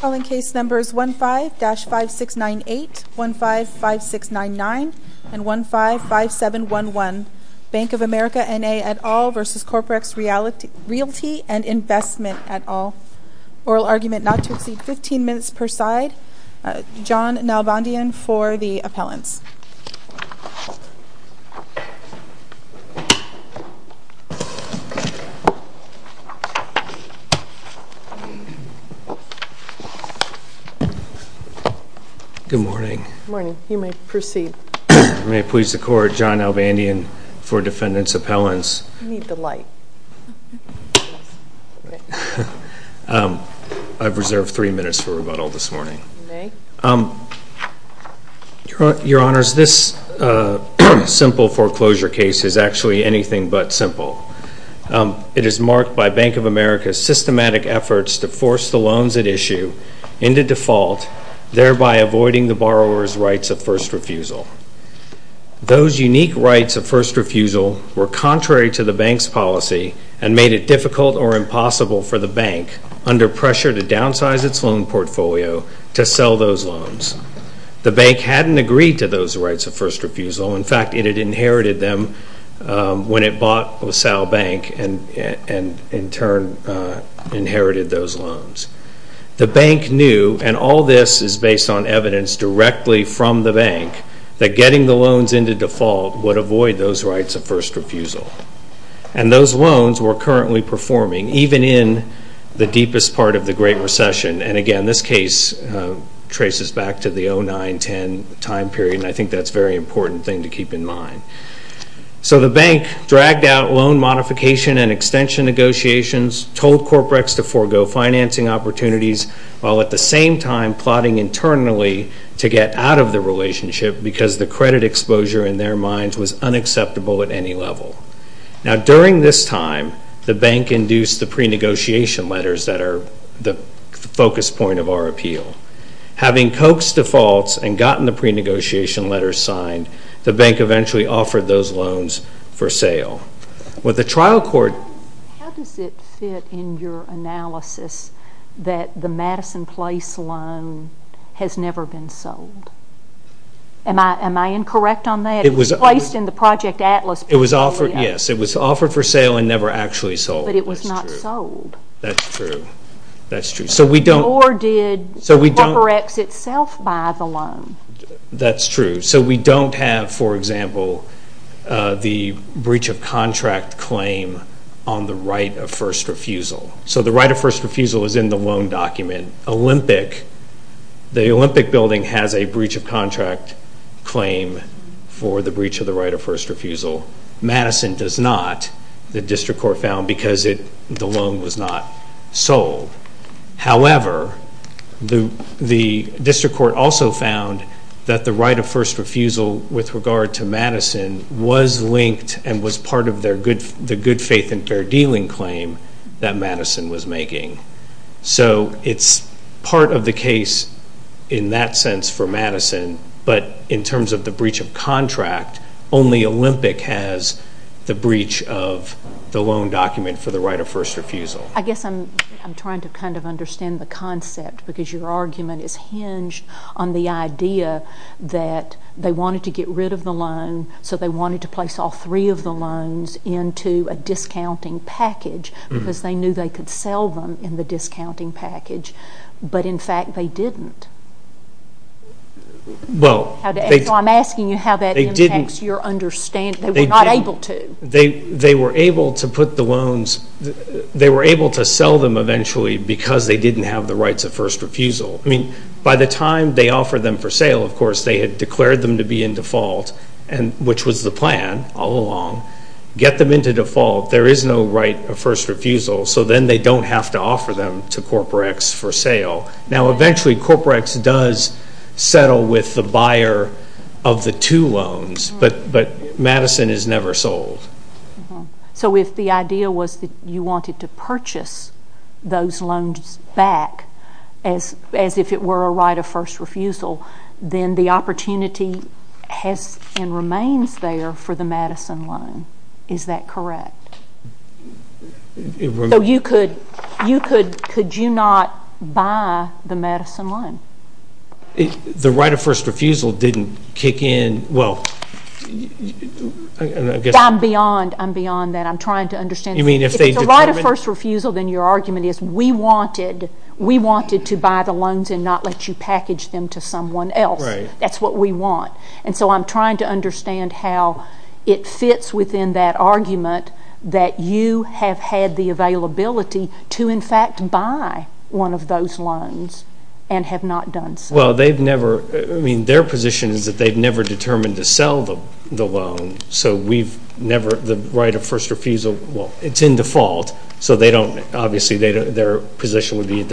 Calling case numbers 15-5698, 15-5699, and 15-5711, Bank of America, NA et al. v. Corporex Realty and Investment et al. Oral argument not to exceed 15 minutes per side. John Nalbandian for the appellants. Your Honors, this simple foreclosure case is actually anything but simple. It is marked by Bank of America's systematic efforts to force the loans at issue into default, thereby avoiding the borrower's rights of first refusal. Those unique rights of first refusal were contrary to the bank's policy and made it difficult or impossible for the bank, under pressure to downsize its loan portfolio, to sell those loans. The bank hadn't agreed to those rights of first refusal. In fact, it had inherited them when it bought LaSalle Bank and in turn inherited those loans. The bank knew, and all this is based on evidence directly from the bank, that getting the loans into default would avoid those rights of first refusal. And those loans were currently performing, even in the deepest part of the Great Recession. And again, this case traces back to the 09-10 time period, and I think that's a very important thing to keep in mind. So the bank dragged out loan modification and extension negotiations, told Corporex to forego financing opportunities, while at the same time plotting internally to get out of the relationship because the credit exposure in their minds was unacceptable at any level. Now, during this time, the bank induced the pre-negotiation letters that are the focus point of our appeal. Having coaxed defaults and gotten the pre-negotiation letters signed, the bank eventually offered those loans for sale. How does it fit in your analysis that the Madison Place loan has never been sold? Am I incorrect on that? It was placed in the Project Atlas. Yes, it was offered for sale and never actually sold. But it was not sold. That's true. Nor did Corporex itself buy the loan. That's true. So we don't have, for example, the breach of contract claim on the right of first refusal. So the right of first refusal is in the loan document. The Olympic Building has a breach of contract claim for the breach of the right of first refusal. Madison does not, the district court found, because the loan was not sold. However, the district court also found that the right of first refusal with regard to Madison was linked and was part of the good faith and fair dealing claim that Madison was making. So it's part of the case in that sense for Madison. But in terms of the breach of contract, only Olympic has the breach of the loan document for the right of first refusal. I guess I'm trying to kind of understand the concept, because your argument is hinged on the idea that they wanted to get rid of the loan, so they wanted to place all three of the loans into a discounting package because they knew they could sell them in the discounting package. But, in fact, they didn't. So I'm asking you how that impacts your understanding. They were not able to. They were able to put the loans, they were able to sell them eventually because they didn't have the rights of first refusal. I mean, by the time they offered them for sale, of course, they had declared them to be in default, which was the plan all along. Get them into default, there is no right of first refusal, so then they don't have to offer them to Corporex for sale. Now, eventually, Corporex does settle with the buyer of the two loans, but Madison is never sold. So if the idea was that you wanted to purchase those loans back as if it were a right of first refusal, then the opportunity has and remains there for the Madison loan. Is that correct? So could you not buy the Madison loan? The right of first refusal didn't kick in. I'm beyond that. I'm trying to understand. If it's a right of first refusal, then your argument is we wanted to buy the loans and not let you package them to someone else. That's what we want. And so I'm trying to understand how it fits within that argument that you have had the availability to, in fact, buy one of those loans and have not done so. Well, their position is that they've never determined to sell the loan, so the right of first refusal, well, it's in default, so obviously their position would be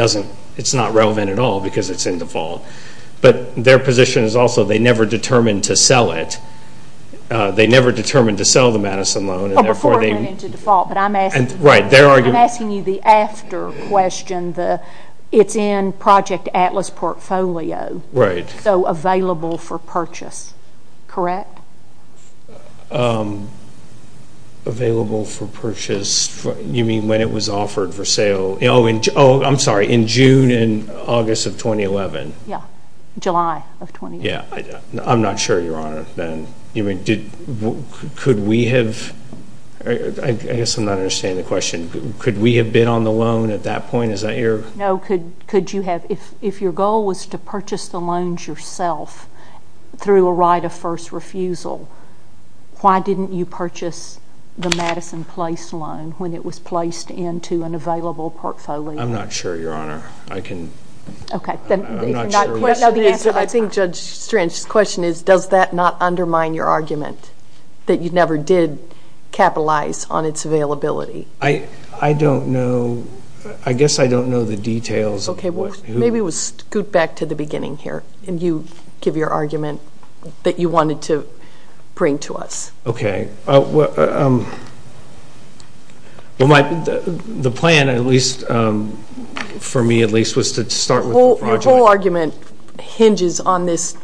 it's not relevant at all because it's in default. But their position is also they never determined to sell it. They never determined to sell the Madison loan. Before it went into default, but I'm asking you the after question. It's in Project Atlas portfolio. Right. So available for purchase, correct? Oh, I'm sorry, in June and August of 2011. Yeah, July of 2011. Yeah, I'm not sure, Your Honor. Could we have, I guess I'm not understanding the question. Could we have been on the loan at that point? No, could you have? If your goal was to purchase the loans yourself through a right of first refusal, why didn't you purchase the Madison Place loan when it was placed into an available portfolio? I'm not sure, Your Honor. Okay. I'm not sure. I think Judge Strange's question is does that not undermine your argument that you never did capitalize on its availability? I don't know. I guess I don't know the details. Okay, maybe we'll scoot back to the beginning here and you give your argument that you wanted to bring to us. Okay. The plan, at least for me at least, was to start with the project. The whole argument hinges on this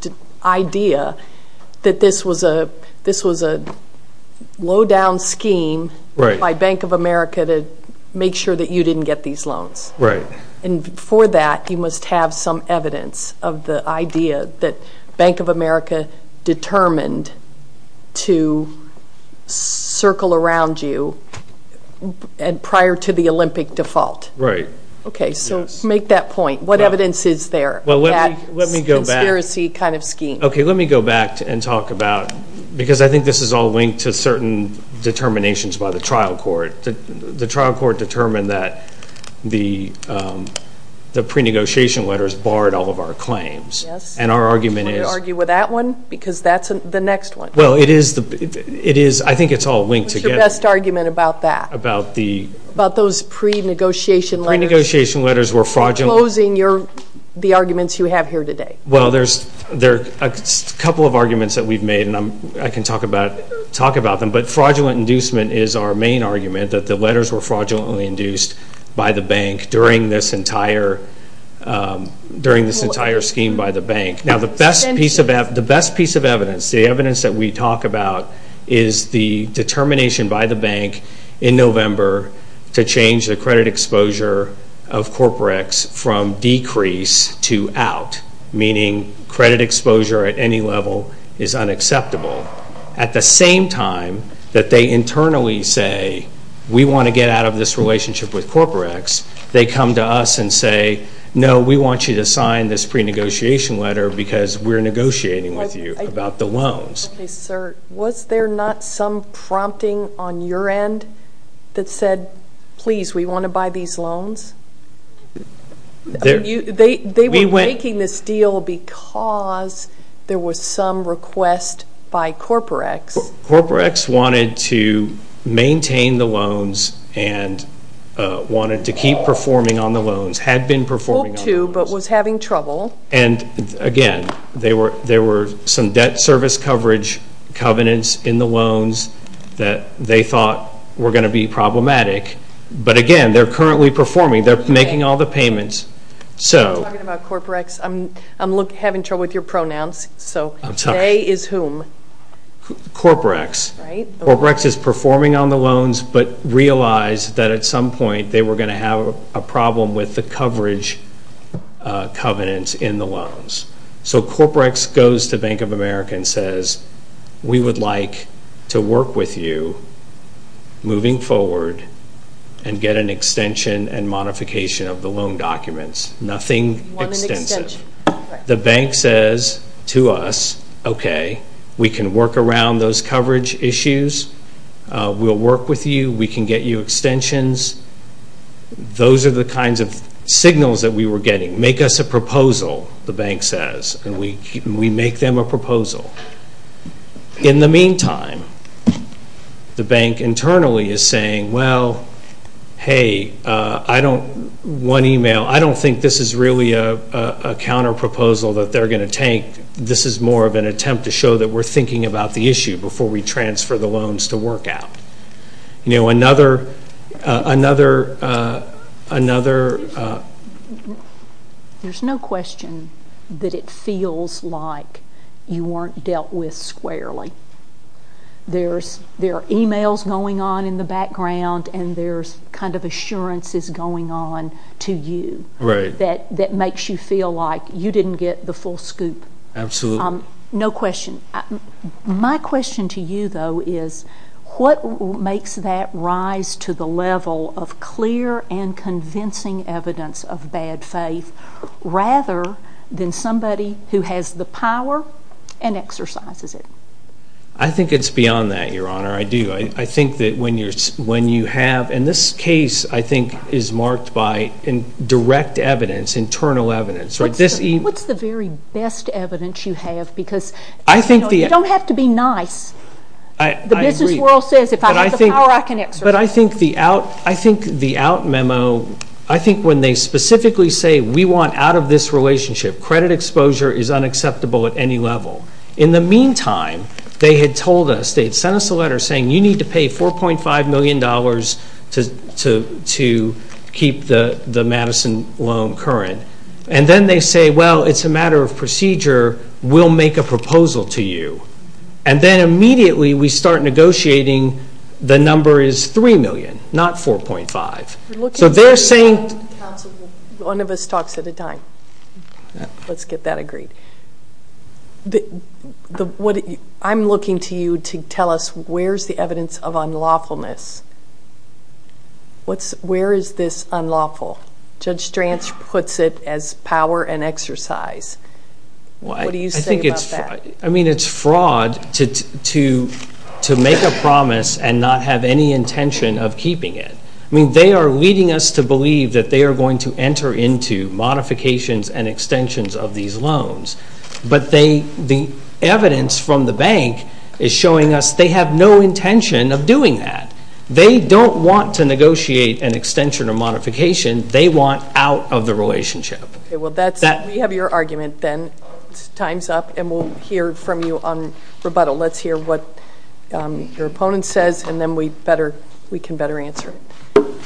idea that this was a lowdown scheme by Bank of America to make sure that you didn't get these loans. Right. And for that, you must have some evidence of the idea that Bank of America determined to circle around you prior to the Olympic default. Right. Okay, so make that point. What evidence is there of that conspiracy kind of scheme? Okay, let me go back and talk about, because I think this is all linked to certain determinations by the trial court. The trial court determined that the pre-negotiation letters barred all of our claims. Yes. And our argument is... Do you want to argue with that one? Because that's the next one. Well, it is. I think it's all linked together. What's your best argument about that? About the... About those pre-negotiation letters. Pre-negotiation letters were fraudulent. You're closing the arguments you have here today. Well, there are a couple of arguments that we've made, and I can talk about them. But fraudulent inducement is our main argument, that the letters were fraudulently induced by the bank during this entire scheme by the bank. Now, the best piece of evidence, the evidence that we talk about, is the determination by the bank in November to change the credit exposure of CorporEx from decrease to out, meaning credit exposure at any level is unacceptable. At the same time that they internally say, we want to get out of this relationship with CorporEx, they come to us and say, no, we want you to sign this pre-negotiation letter because we're negotiating with you about the loans. Okay, sir. Was there not some prompting on your end that said, please, we want to buy these loans? They were making this deal because there was some request by CorporEx. CorporEx wanted to maintain the loans and wanted to keep performing on the loans, had been performing on the loans. Hoped to, but was having trouble. And, again, there were some debt service coverage covenants in the loans that they thought were going to be problematic. But, again, they're currently performing. They're making all the payments. You're talking about CorporEx. I'm having trouble with your pronouns. So, they is whom? CorporEx. Right. CorporEx is performing on the loans but realized that at some point they were going to have a problem with the coverage covenants in the loans. So, CorporEx goes to Bank of America and says, we would like to work with you moving forward and get an extension and modification of the loan documents. Nothing extensive. The bank says to us, okay, we can work around those coverage issues. We'll work with you. We can get you extensions. Those are the kinds of signals that we were getting. Make us a proposal, the bank says, and we make them a proposal. In the meantime, the bank internally is saying, well, hey, one email, I don't think this is really a counterproposal that they're going to take. This is more of an attempt to show that we're thinking about the issue before we transfer the loans to work out. You know, another. There's no question that it feels like you weren't dealt with squarely. There are emails going on in the background and there's kind of assurances going on to you. Right. That makes you feel like you didn't get the full scoop. Absolutely. No question. My question to you, though, is what makes that rise to the level of clear and convincing evidence of bad faith rather than somebody who has the power and exercises it? I think it's beyond that, Your Honor. I do. I think that when you have, and this case, I think, is marked by direct evidence, internal evidence. What's the very best evidence you have? You don't have to be nice. I agree. The business world says if I have the power, I can exert it. But I think the out memo, I think when they specifically say, we want out of this relationship, credit exposure is unacceptable at any level. In the meantime, they had told us, they had sent us a letter saying, you need to pay $4.5 million to keep the Madison loan current. And then they say, well, it's a matter of procedure. We'll make a proposal to you. And then immediately we start negotiating the number is $3 million, not $4.5. So they're saying to counsel, one of us talks at a time. Let's get that agreed. I'm looking to you to tell us where's the evidence of unlawfulness. Where is this unlawful? Judge Stranz puts it as power and exercise. What do you say about that? I mean, it's fraud to make a promise and not have any intention of keeping it. I mean, they are leading us to believe that they are going to enter into modifications and extensions of these loans. But the evidence from the bank is showing us they have no intention of doing that. They don't want to negotiate an extension or modification. They want out of the relationship. Okay, well, we have your argument then. Time's up, and we'll hear from you on rebuttal. Let's hear what your opponent says, and then we can better answer it.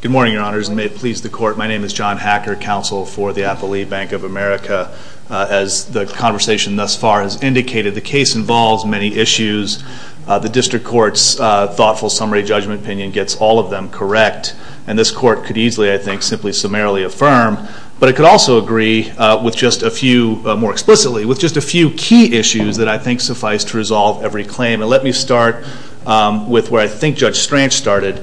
Good morning, Your Honors, and may it please the Court. My name is John Hacker, counsel for the Affiliate Bank of America. As the conversation thus far has indicated, the case involves many issues. The district court's thoughtful summary judgment opinion gets all of them correct. And this court could easily, I think, simply summarily affirm. But it could also agree with just a few, more explicitly, with just a few key issues that I think suffice to resolve every claim. And let me start with where I think Judge Stranz started,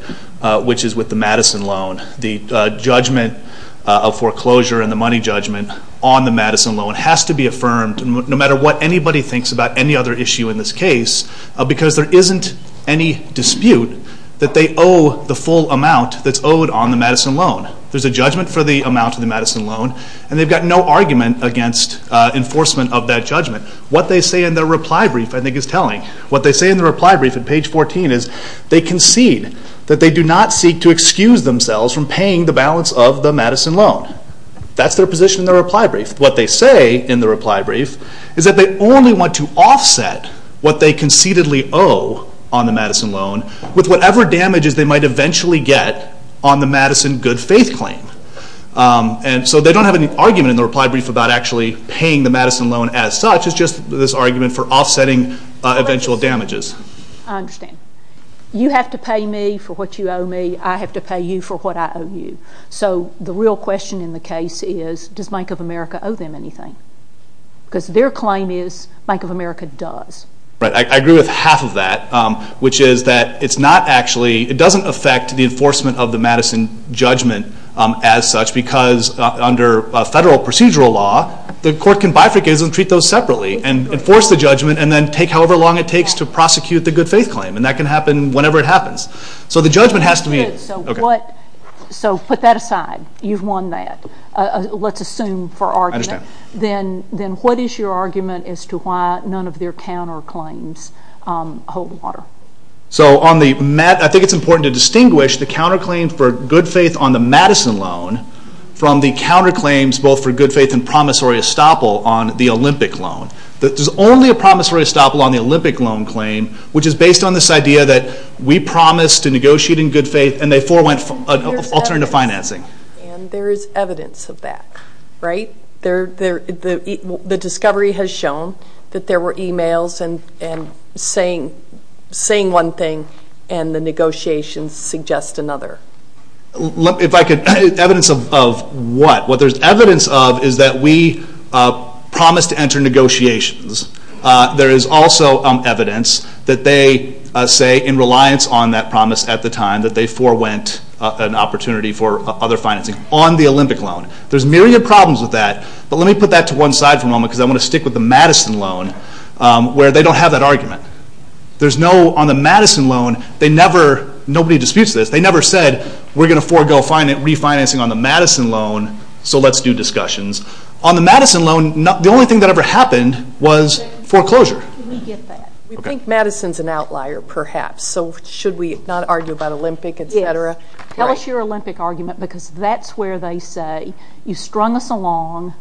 which is with the Madison loan. The judgment of foreclosure and the money judgment on the Madison loan has to be affirmed, no matter what anybody thinks about any other issue in this case, because there isn't any dispute that they owe the full amount that's owed on the Madison loan. There's a judgment for the amount of the Madison loan, and they've got no argument against enforcement of that judgment. What they say in their reply brief, I think, is telling. What they say in their reply brief at page 14 is they concede that they do not seek to excuse themselves from paying the balance of the Madison loan. That's their position in their reply brief. What they say in their reply brief is that they only want to offset what they conceitedly owe on the Madison loan with whatever damages they might eventually get on the Madison good-faith claim. And so they don't have any argument in their reply brief about actually paying the Madison loan as such. It's just this argument for offsetting eventual damages. I understand. You have to pay me for what you owe me. I have to pay you for what I owe you. So the real question in the case is, does Bank of America owe them anything? Because their claim is Bank of America does. I agree with half of that, which is that it's not actually – it doesn't affect the enforcement of the Madison judgment as such, because under federal procedural law, the court can bifurcate and treat those separately and enforce the judgment and then take however long it takes to prosecute the good-faith claim. And that can happen whenever it happens. So the judgment has to be – So put that aside. You've won that. Let's assume for argument. I understand. Then what is your argument as to why none of their counterclaims hold water? I think it's important to distinguish the counterclaim for good-faith on the Madison loan from the counterclaims both for good-faith and promissory estoppel on the Olympic loan. There's only a promissory estoppel on the Olympic loan claim, which is based on this idea that we promised to negotiate in good-faith and therefore went alternative financing. There is evidence of that, right? The discovery has shown that there were e-mails saying one thing and the negotiations suggest another. Evidence of what? What there's evidence of is that we promised to enter negotiations. There is also evidence that they say in reliance on that promise at the time that they forewent an opportunity for other financing on the Olympic loan. There's a myriad of problems with that, but let me put that to one side for a moment because I want to stick with the Madison loan where they don't have that argument. On the Madison loan, nobody disputes this. They never said we're going to forego refinancing on the Madison loan, so let's do discussions. On the Madison loan, the only thing that ever happened was foreclosure. We think Madison's an outlier perhaps, so should we not argue about Olympic, etc.? Tell us your Olympic argument because that's where they say you strung us along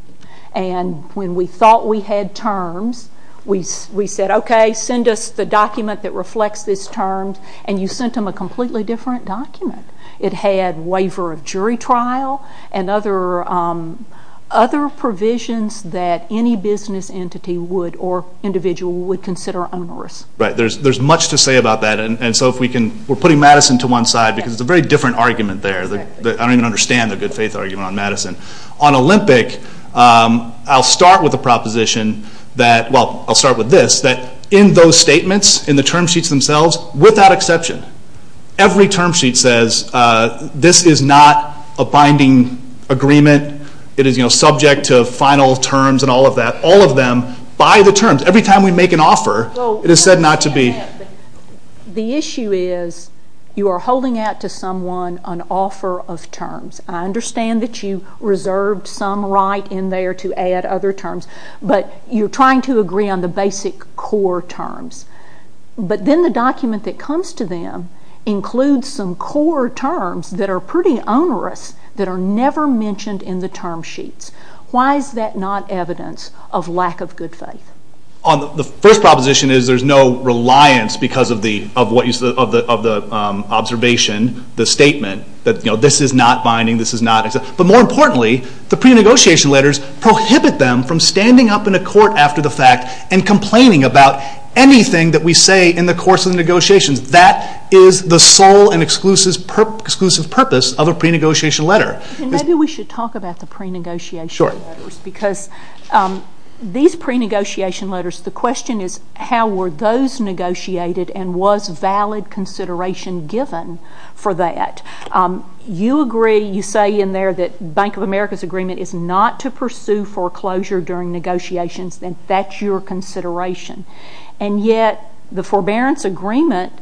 and when we thought we had terms, we said, okay, send us the document that reflects these terms, and you sent them a completely different document. It had waiver of jury trial and other provisions that any business entity would or individual would consider onerous. There's much to say about that, and so we're putting Madison to one side because it's a very different argument there. I don't even understand the good faith argument on Madison. On Olympic, I'll start with a proposition that, well, I'll start with this, that in those statements, in the term sheets themselves, without exception, every term sheet says this is not a binding agreement. It is subject to final terms and all of that. All of them by the terms. Every time we make an offer, it is said not to be. The issue is you are holding out to someone an offer of terms. I understand that you reserved some right in there to add other terms, but you're trying to agree on the basic core terms. But then the document that comes to them includes some core terms that are pretty onerous that are never mentioned in the term sheets. Why is that not evidence of lack of good faith? The first proposition is there's no reliance because of the observation, the statement, that this is not binding, this is not. But more importantly, the pre-negotiation letters prohibit them from standing up in a court after the fact and complaining about anything that we say in the course of the negotiations. That is the sole and exclusive purpose of a pre-negotiation letter. Maybe we should talk about the pre-negotiation letters because these pre-negotiation letters, the question is, how were those negotiated and was valid consideration given for that? You agree, you say in there that Bank of America's agreement is not to pursue foreclosure during negotiations. Then that's your consideration. And yet the forbearance agreement...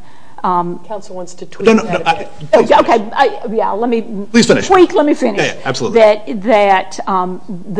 Council wants to tweak that a bit. No, no, please finish. Okay, yeah, let me... Please finish. Tweak, let me finish. Yeah, yeah, absolutely.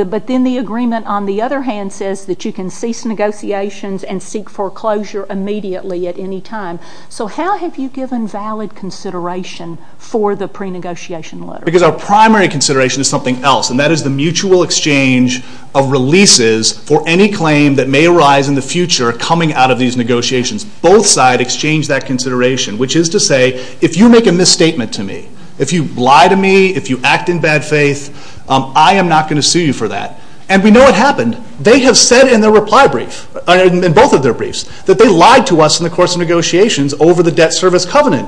But then the agreement, on the other hand, says that you can cease negotiations and seek foreclosure immediately at any time. So how have you given valid consideration for the pre-negotiation letter? Because our primary consideration is something else, and that is the mutual exchange of releases for any claim that may arise in the future coming out of these negotiations. Both sides exchange that consideration, which is to say, if you make a misstatement to me, if you lie to me, if you act in bad faith, I am not going to sue you for that. And we know what happened. They have said in their reply brief, in both of their briefs, that they lied to us in the course of negotiations over the debt service covenant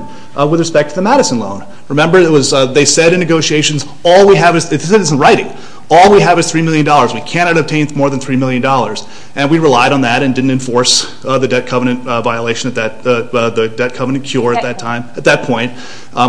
with respect to the Madison loan. Remember, they said in negotiations, all we have is, this is in writing, all we have is $3 million. We cannot obtain more than $3 million. And we relied on that and didn't enforce the debt covenant violation at that, the debt covenant cure at that time, at that point,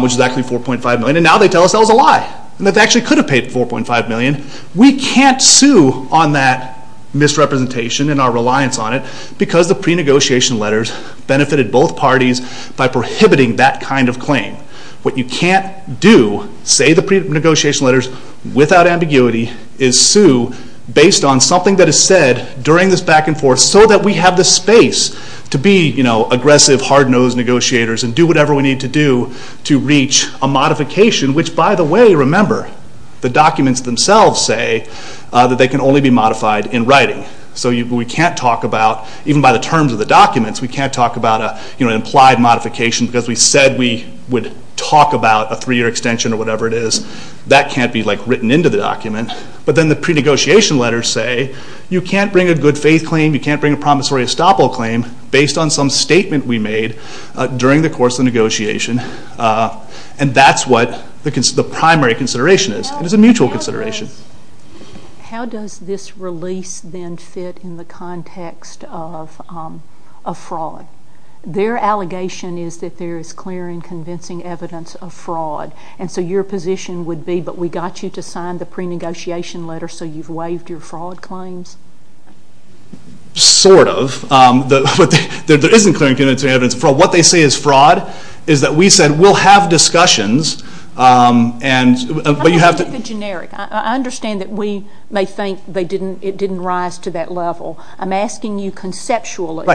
which is actually $4.5 million. And now they tell us that was a lie, and that they actually could have paid $4.5 million. We can't sue on that misrepresentation and our reliance on it because the pre-negotiation letters benefited both parties by prohibiting that kind of claim. What you can't do, say the pre-negotiation letters, without ambiguity, is sue based on something that is said during this back and forth so that we have the space to be aggressive, hard-nosed negotiators and do whatever we need to do to reach a modification, which by the way, remember, the documents themselves say that they can only be modified in writing. So we can't talk about, even by the terms of the documents, we can't talk about an implied modification because we said we would talk about a three-year extension or whatever it is. That can't be written into the document. But then the pre-negotiation letters say, you can't bring a good faith claim, you can't bring a promissory estoppel claim based on some statement we made during the course of the negotiation. And that's what the primary consideration is. It is a mutual consideration. How does this release then fit in the context of a fraud? Their allegation is that there is clear and convincing evidence of fraud. And so your position would be, but we got you to sign the pre-negotiation letter so you've waived your fraud claims? Sort of. There isn't clear and convincing evidence of fraud. What they say is fraud, is that we said we'll have discussions. I'm going to keep it generic. I understand that we may think it didn't rise to that level. I'm asking you conceptually.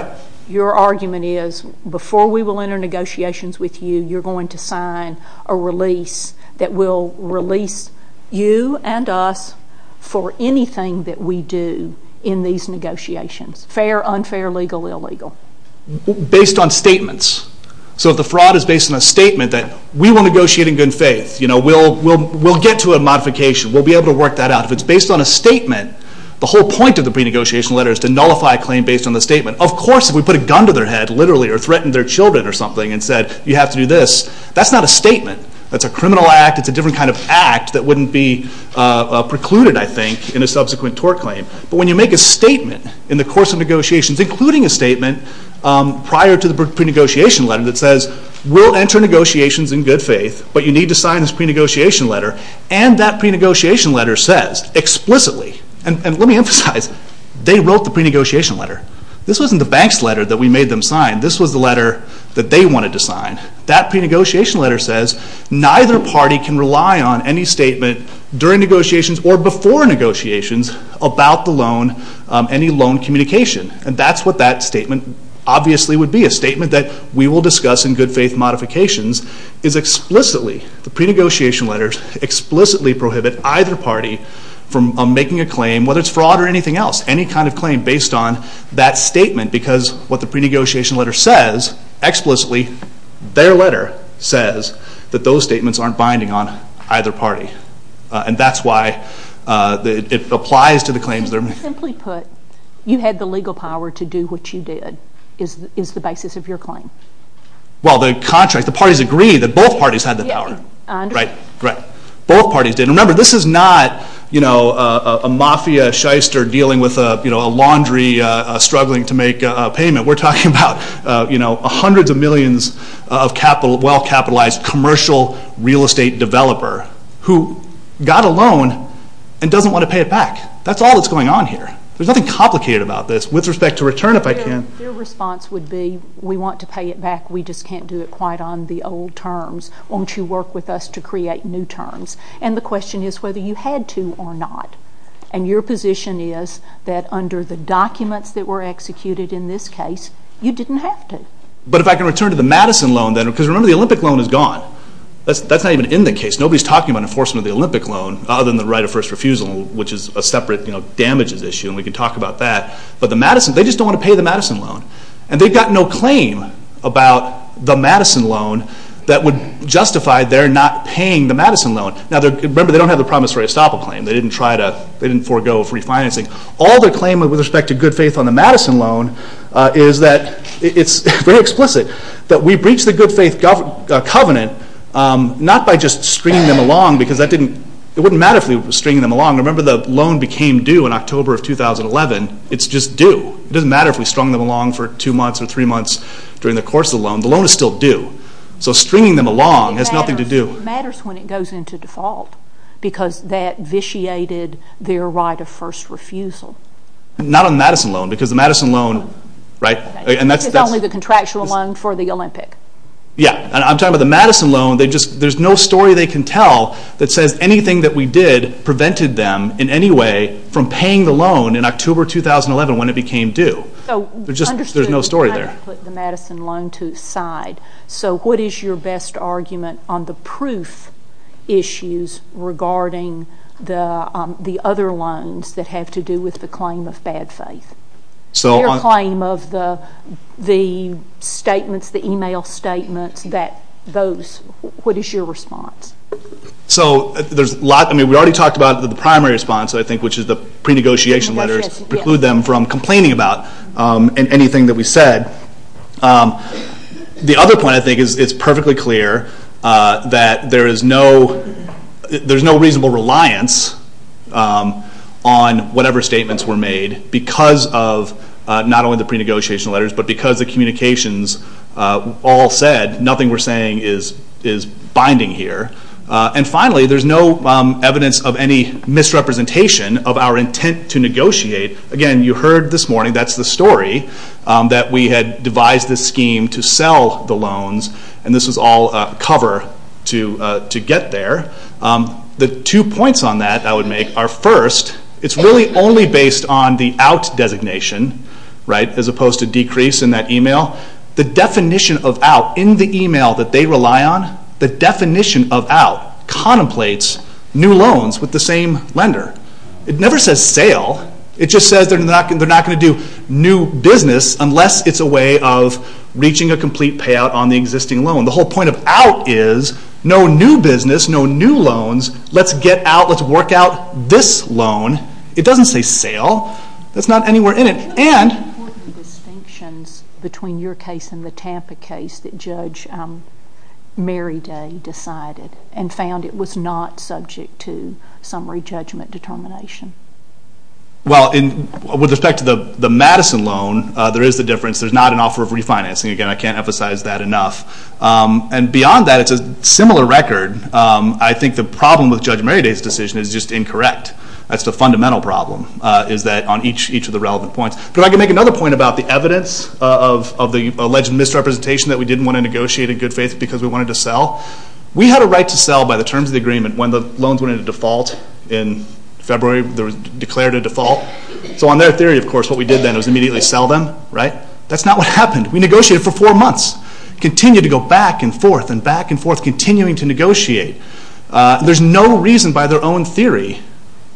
Your argument is, before we will enter negotiations with you, you're going to sign a release that will release you and us for anything that we do in these negotiations. Fair, unfair, legal, illegal. Based on statements. So if the fraud is based on a statement that we will negotiate in good faith, we'll get to a modification, we'll be able to work that out. If it's based on a statement, the whole point of the pre-negotiation letter is to nullify a claim based on the statement. Of course, if we put a gun to their head, literally, or threatened their children or something and said you have to do this, that's not a statement. That's a criminal act. It's a different kind of act that wouldn't be precluded, I think, in a subsequent tort claim. But when you make a statement in the course of negotiations, including a statement prior to the pre-negotiation letter that says we'll enter negotiations in good faith, but you need to sign this pre-negotiation letter, and that pre-negotiation letter says explicitly, and let me emphasize, they wrote the pre-negotiation letter. This wasn't the bank's letter that we made them sign. This was the letter that they wanted to sign. That pre-negotiation letter says neither party can rely on any statement during negotiations or before negotiations about the loan, any loan communication. And that's what that statement obviously would be, a statement that we will discuss in good faith modifications, is explicitly, the pre-negotiation letters, explicitly prohibit either party from making a claim, whether it's fraud or anything else, any kind of claim based on that statement, because what the pre-negotiation letter says, explicitly, their letter says that those statements aren't binding on either party. And that's why it applies to the claims that are made. Simply put, you had the legal power to do what you did, is the basis of your claim. Well, the contract, the parties agree that both parties had the power. Right, right. Both parties did. Remember, this is not, you know, a mafia shyster dealing with a laundry, struggling to make a payment. We're talking about, you know, hundreds of millions of capital, well-capitalized commercial real estate developer who got a loan and doesn't want to pay it back. That's all that's going on here. There's nothing complicated about this. With respect to return, if I can... Their response would be, we want to pay it back, we just can't do it quite on the old terms. Won't you work with us to create new terms? And the question is whether you had to or not. And your position is that under the documents that were executed in this case, you didn't have to. But if I can return to the Madison loan then, because remember, the Olympic loan is gone. That's not even in the case. Nobody's talking about enforcement of the Olympic loan other than the right of first refusal, which is a separate, you know, damages issue, and we can talk about that. But the Madison, they just don't want to pay the Madison loan. And they've got no claim about the Madison loan that would justify their not paying the Madison loan. Now, remember, they don't have the promissory estoppel claim. They didn't try to, they didn't forego refinancing. All their claim with respect to good faith on the Madison loan is that it's very explicit that we breached the good faith covenant not by just stringing them along, because that didn't, it wouldn't matter if we were stringing them along. Remember the loan became due in October of 2011. It's just due. It doesn't matter if we strung them along for two months or three months during the course of the loan. The loan is still due. So stringing them along has nothing to do. It matters when it goes into default, because that vitiated their right of first refusal. Not on the Madison loan, because the Madison loan, right, It's only the contractual loan for the Olympic. Yeah. I'm talking about the Madison loan. There's no story they can tell that says anything that we did prevented them in any way from paying the loan in October 2011 when it became due. There's no story there. So what is your best argument on the proof issues regarding the other loans that have to do with the claim of bad faith? Your claim of the statements, the email statements, that those, what is your response? So there's a lot. I mean, we already talked about the primary response, I think, which is the pre-negotiation letters preclude them from complaining about anything that we said. The other point, I think, is it's perfectly clear that there is no reasonable reliance on whatever statements were made because of not only the pre-negotiation letters, but because the communications all said nothing we're saying is binding here. And finally, there's no evidence of any misrepresentation of our intent to negotiate. Again, you heard this morning, that's the story, that we had devised this scheme to sell the loans and this was all cover to get there. The two points on that I would make are first, it's really only based on the out designation, as opposed to decrease in that email. The definition of out in the email that they rely on, the definition of out contemplates new loans with the same lender. It never says sale, it just says they're not going to do new business unless it's a way of reaching a complete payout on the existing loan. The whole point of out is no new business, no new loans, let's get out, let's work out this loan. It doesn't say sale, that's not anywhere in it. And... What are the important distinctions between your case and the Tampa case that Judge Merriday decided and found it was not subject to summary judgment determination? Well, with respect to the Madison loan, there is a difference. There's not an offer of refinancing. Again, I can't emphasize that enough. And beyond that, it's a similar record. I think the problem with Judge Merriday's decision is just incorrect. That's the fundamental problem is that on each of the relevant points. But I can make another point about the evidence of the alleged misrepresentation that we didn't want to negotiate in good faith because we wanted to sell. We had a right to sell by the terms of the agreement when the loans went into default in February. They were declared a default. So on their theory, of course, what we did then was immediately sell them, right? That's not what happened. We negotiated for four months. Continued to go back and forth and back and forth, continuing to negotiate. There's no reason by their own theory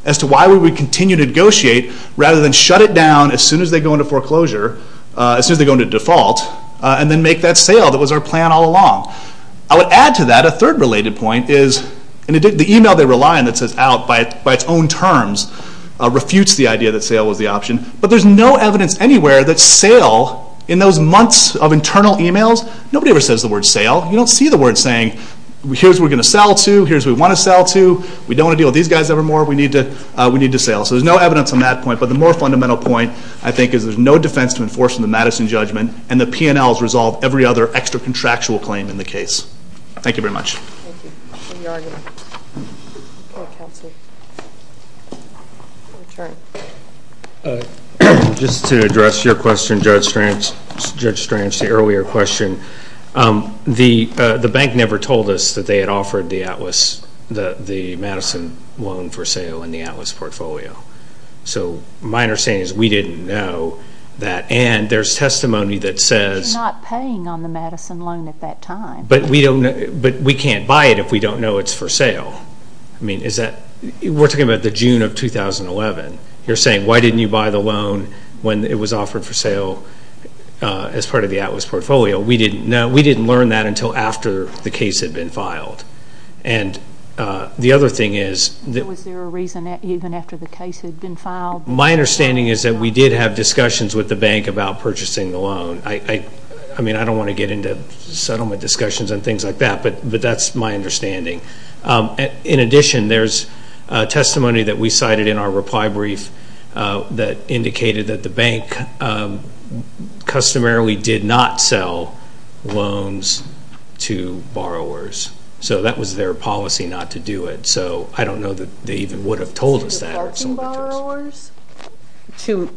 as to why we would continue to negotiate rather than shut it down as soon as they go into foreclosure, as soon as they go into default, and then make that sale that was our plan all along. I would add to that, a third related point is the email they rely on that says out by its own terms refutes the idea that sale was the option. But there's no evidence anywhere that sale in those months of internal emails, nobody ever says the word sale. You don't see the word saying, here's what we're going to sell to, here's what we want to sell to, we don't want to deal with these guys ever more, we need to sale. So there's no evidence on that point, but the more fundamental point I think is there's no defense to enforce in the Madison judgment and the P&Ls resolve every other extra contractual claim in the case. Thank you very much. Thank you. Any arguments? Okay, counsel. Just to address your question, Judge Strange, the earlier question, the bank never told us that they had offered the Atlas, the Madison loan for sale in the Atlas portfolio. So my understanding is we didn't know that and there's testimony that says... We're not paying on the Madison loan at that time. But we can't buy it if we don't know it's for sale. I mean, is that... We're talking about the June of 2011. You're saying, why didn't you buy the loan when it was offered for sale as part of the Atlas portfolio? We didn't know, we didn't learn that until after the case had been filed. And the other thing is... Was there a reason even after the case had been filed? My understanding is that we did have discussions with the bank about purchasing the loan. I mean, I don't want to get into settlement discussions and things like that, but that's my understanding. In addition, there's testimony that we cited in our reply brief that indicated that the bank customarily did not sell loans to borrowers. So, that was their policy not to do it. So, I don't know that they even would have told us that. To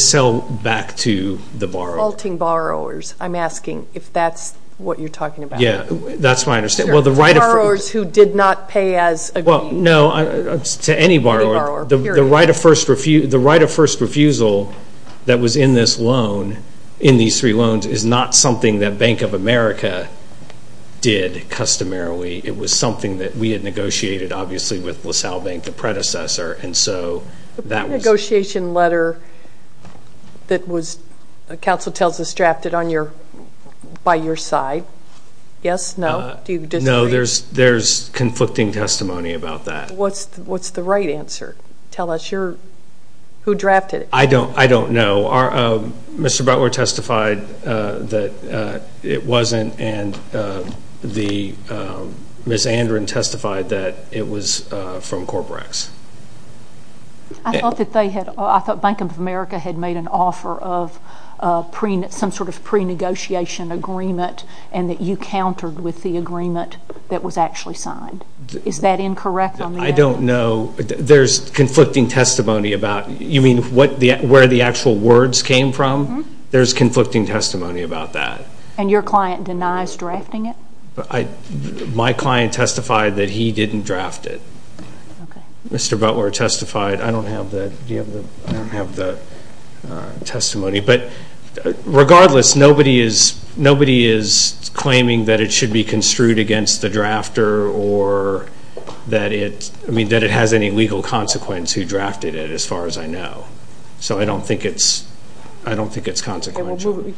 sell back to the borrower. Faulting borrowers, I'm asking if that's what you're talking about. Yeah, that's my understanding. Well, the right of... Borrowers who did not pay as agreed. Well, no, to any borrower. The right of first refusal that was in this loan, in these three loans, is not something that Bank of America did customarily. It was something that we had negotiated, obviously, with LaSalle Bank, the predecessor, and so that was... The pre-negotiation letter that was, Council tells us, drafted by your side. Yes? No? Do you disagree? No, there's conflicting testimony about that. What's the right answer? Tell us. Who drafted it? I don't know. Mr. Butler testified that it wasn't, and Ms. Andren testified that it was from Corporex. I thought Bank of America had made an offer of some sort of pre-negotiation agreement and that you countered with the agreement that was actually signed. Is that incorrect? I don't know. There's conflicting testimony about... You mean where the actual words came from? Mm-hmm. There's conflicting testimony about that. And your client denies drafting it? My client testified that he didn't draft it. Mr. Butler testified... I don't have the testimony, but regardless, nobody is claiming that it should be construed against the drafter or that it has any legal consequence who drafted it, as far as I know. So I don't think it's consequential.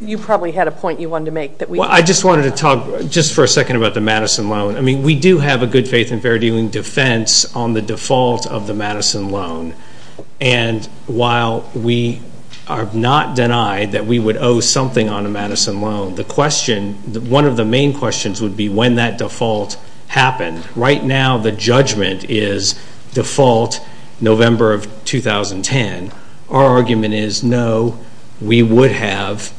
You probably had a point you wanted to make. Well, I just wanted to talk just for a second about the Madison loan. I mean, we do have a good faith and fair dealing defense on the default of the Madison loan. And while we are not denied that we would owe something on a Madison loan, one of the main questions would be when that default happened. Right now, the judgment is default November of 2010. Our argument is, no, we would have,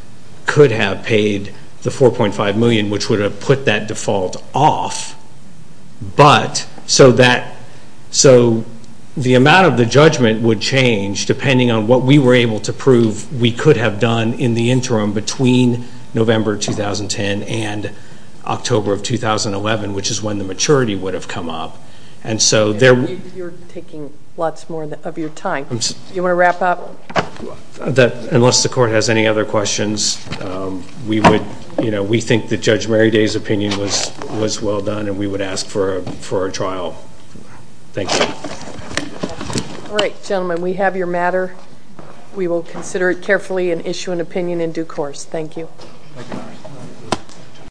could have paid the $4.5 million, which would have put that default off. But so that... So the amount of the judgment would change depending on what we were able to prove we could have done in the interim between November 2010 and October of 2011, which is when the maturity would have come up. And so there... You're taking lots more of your time. You want to wrap up? Unless the court has any other questions, we would, you know, we think that Judge Mary Day's opinion was well done and we would ask for a trial. Thank you. All right, gentlemen, we have your matter. We will consider it carefully and issue an opinion in due course. Thank you.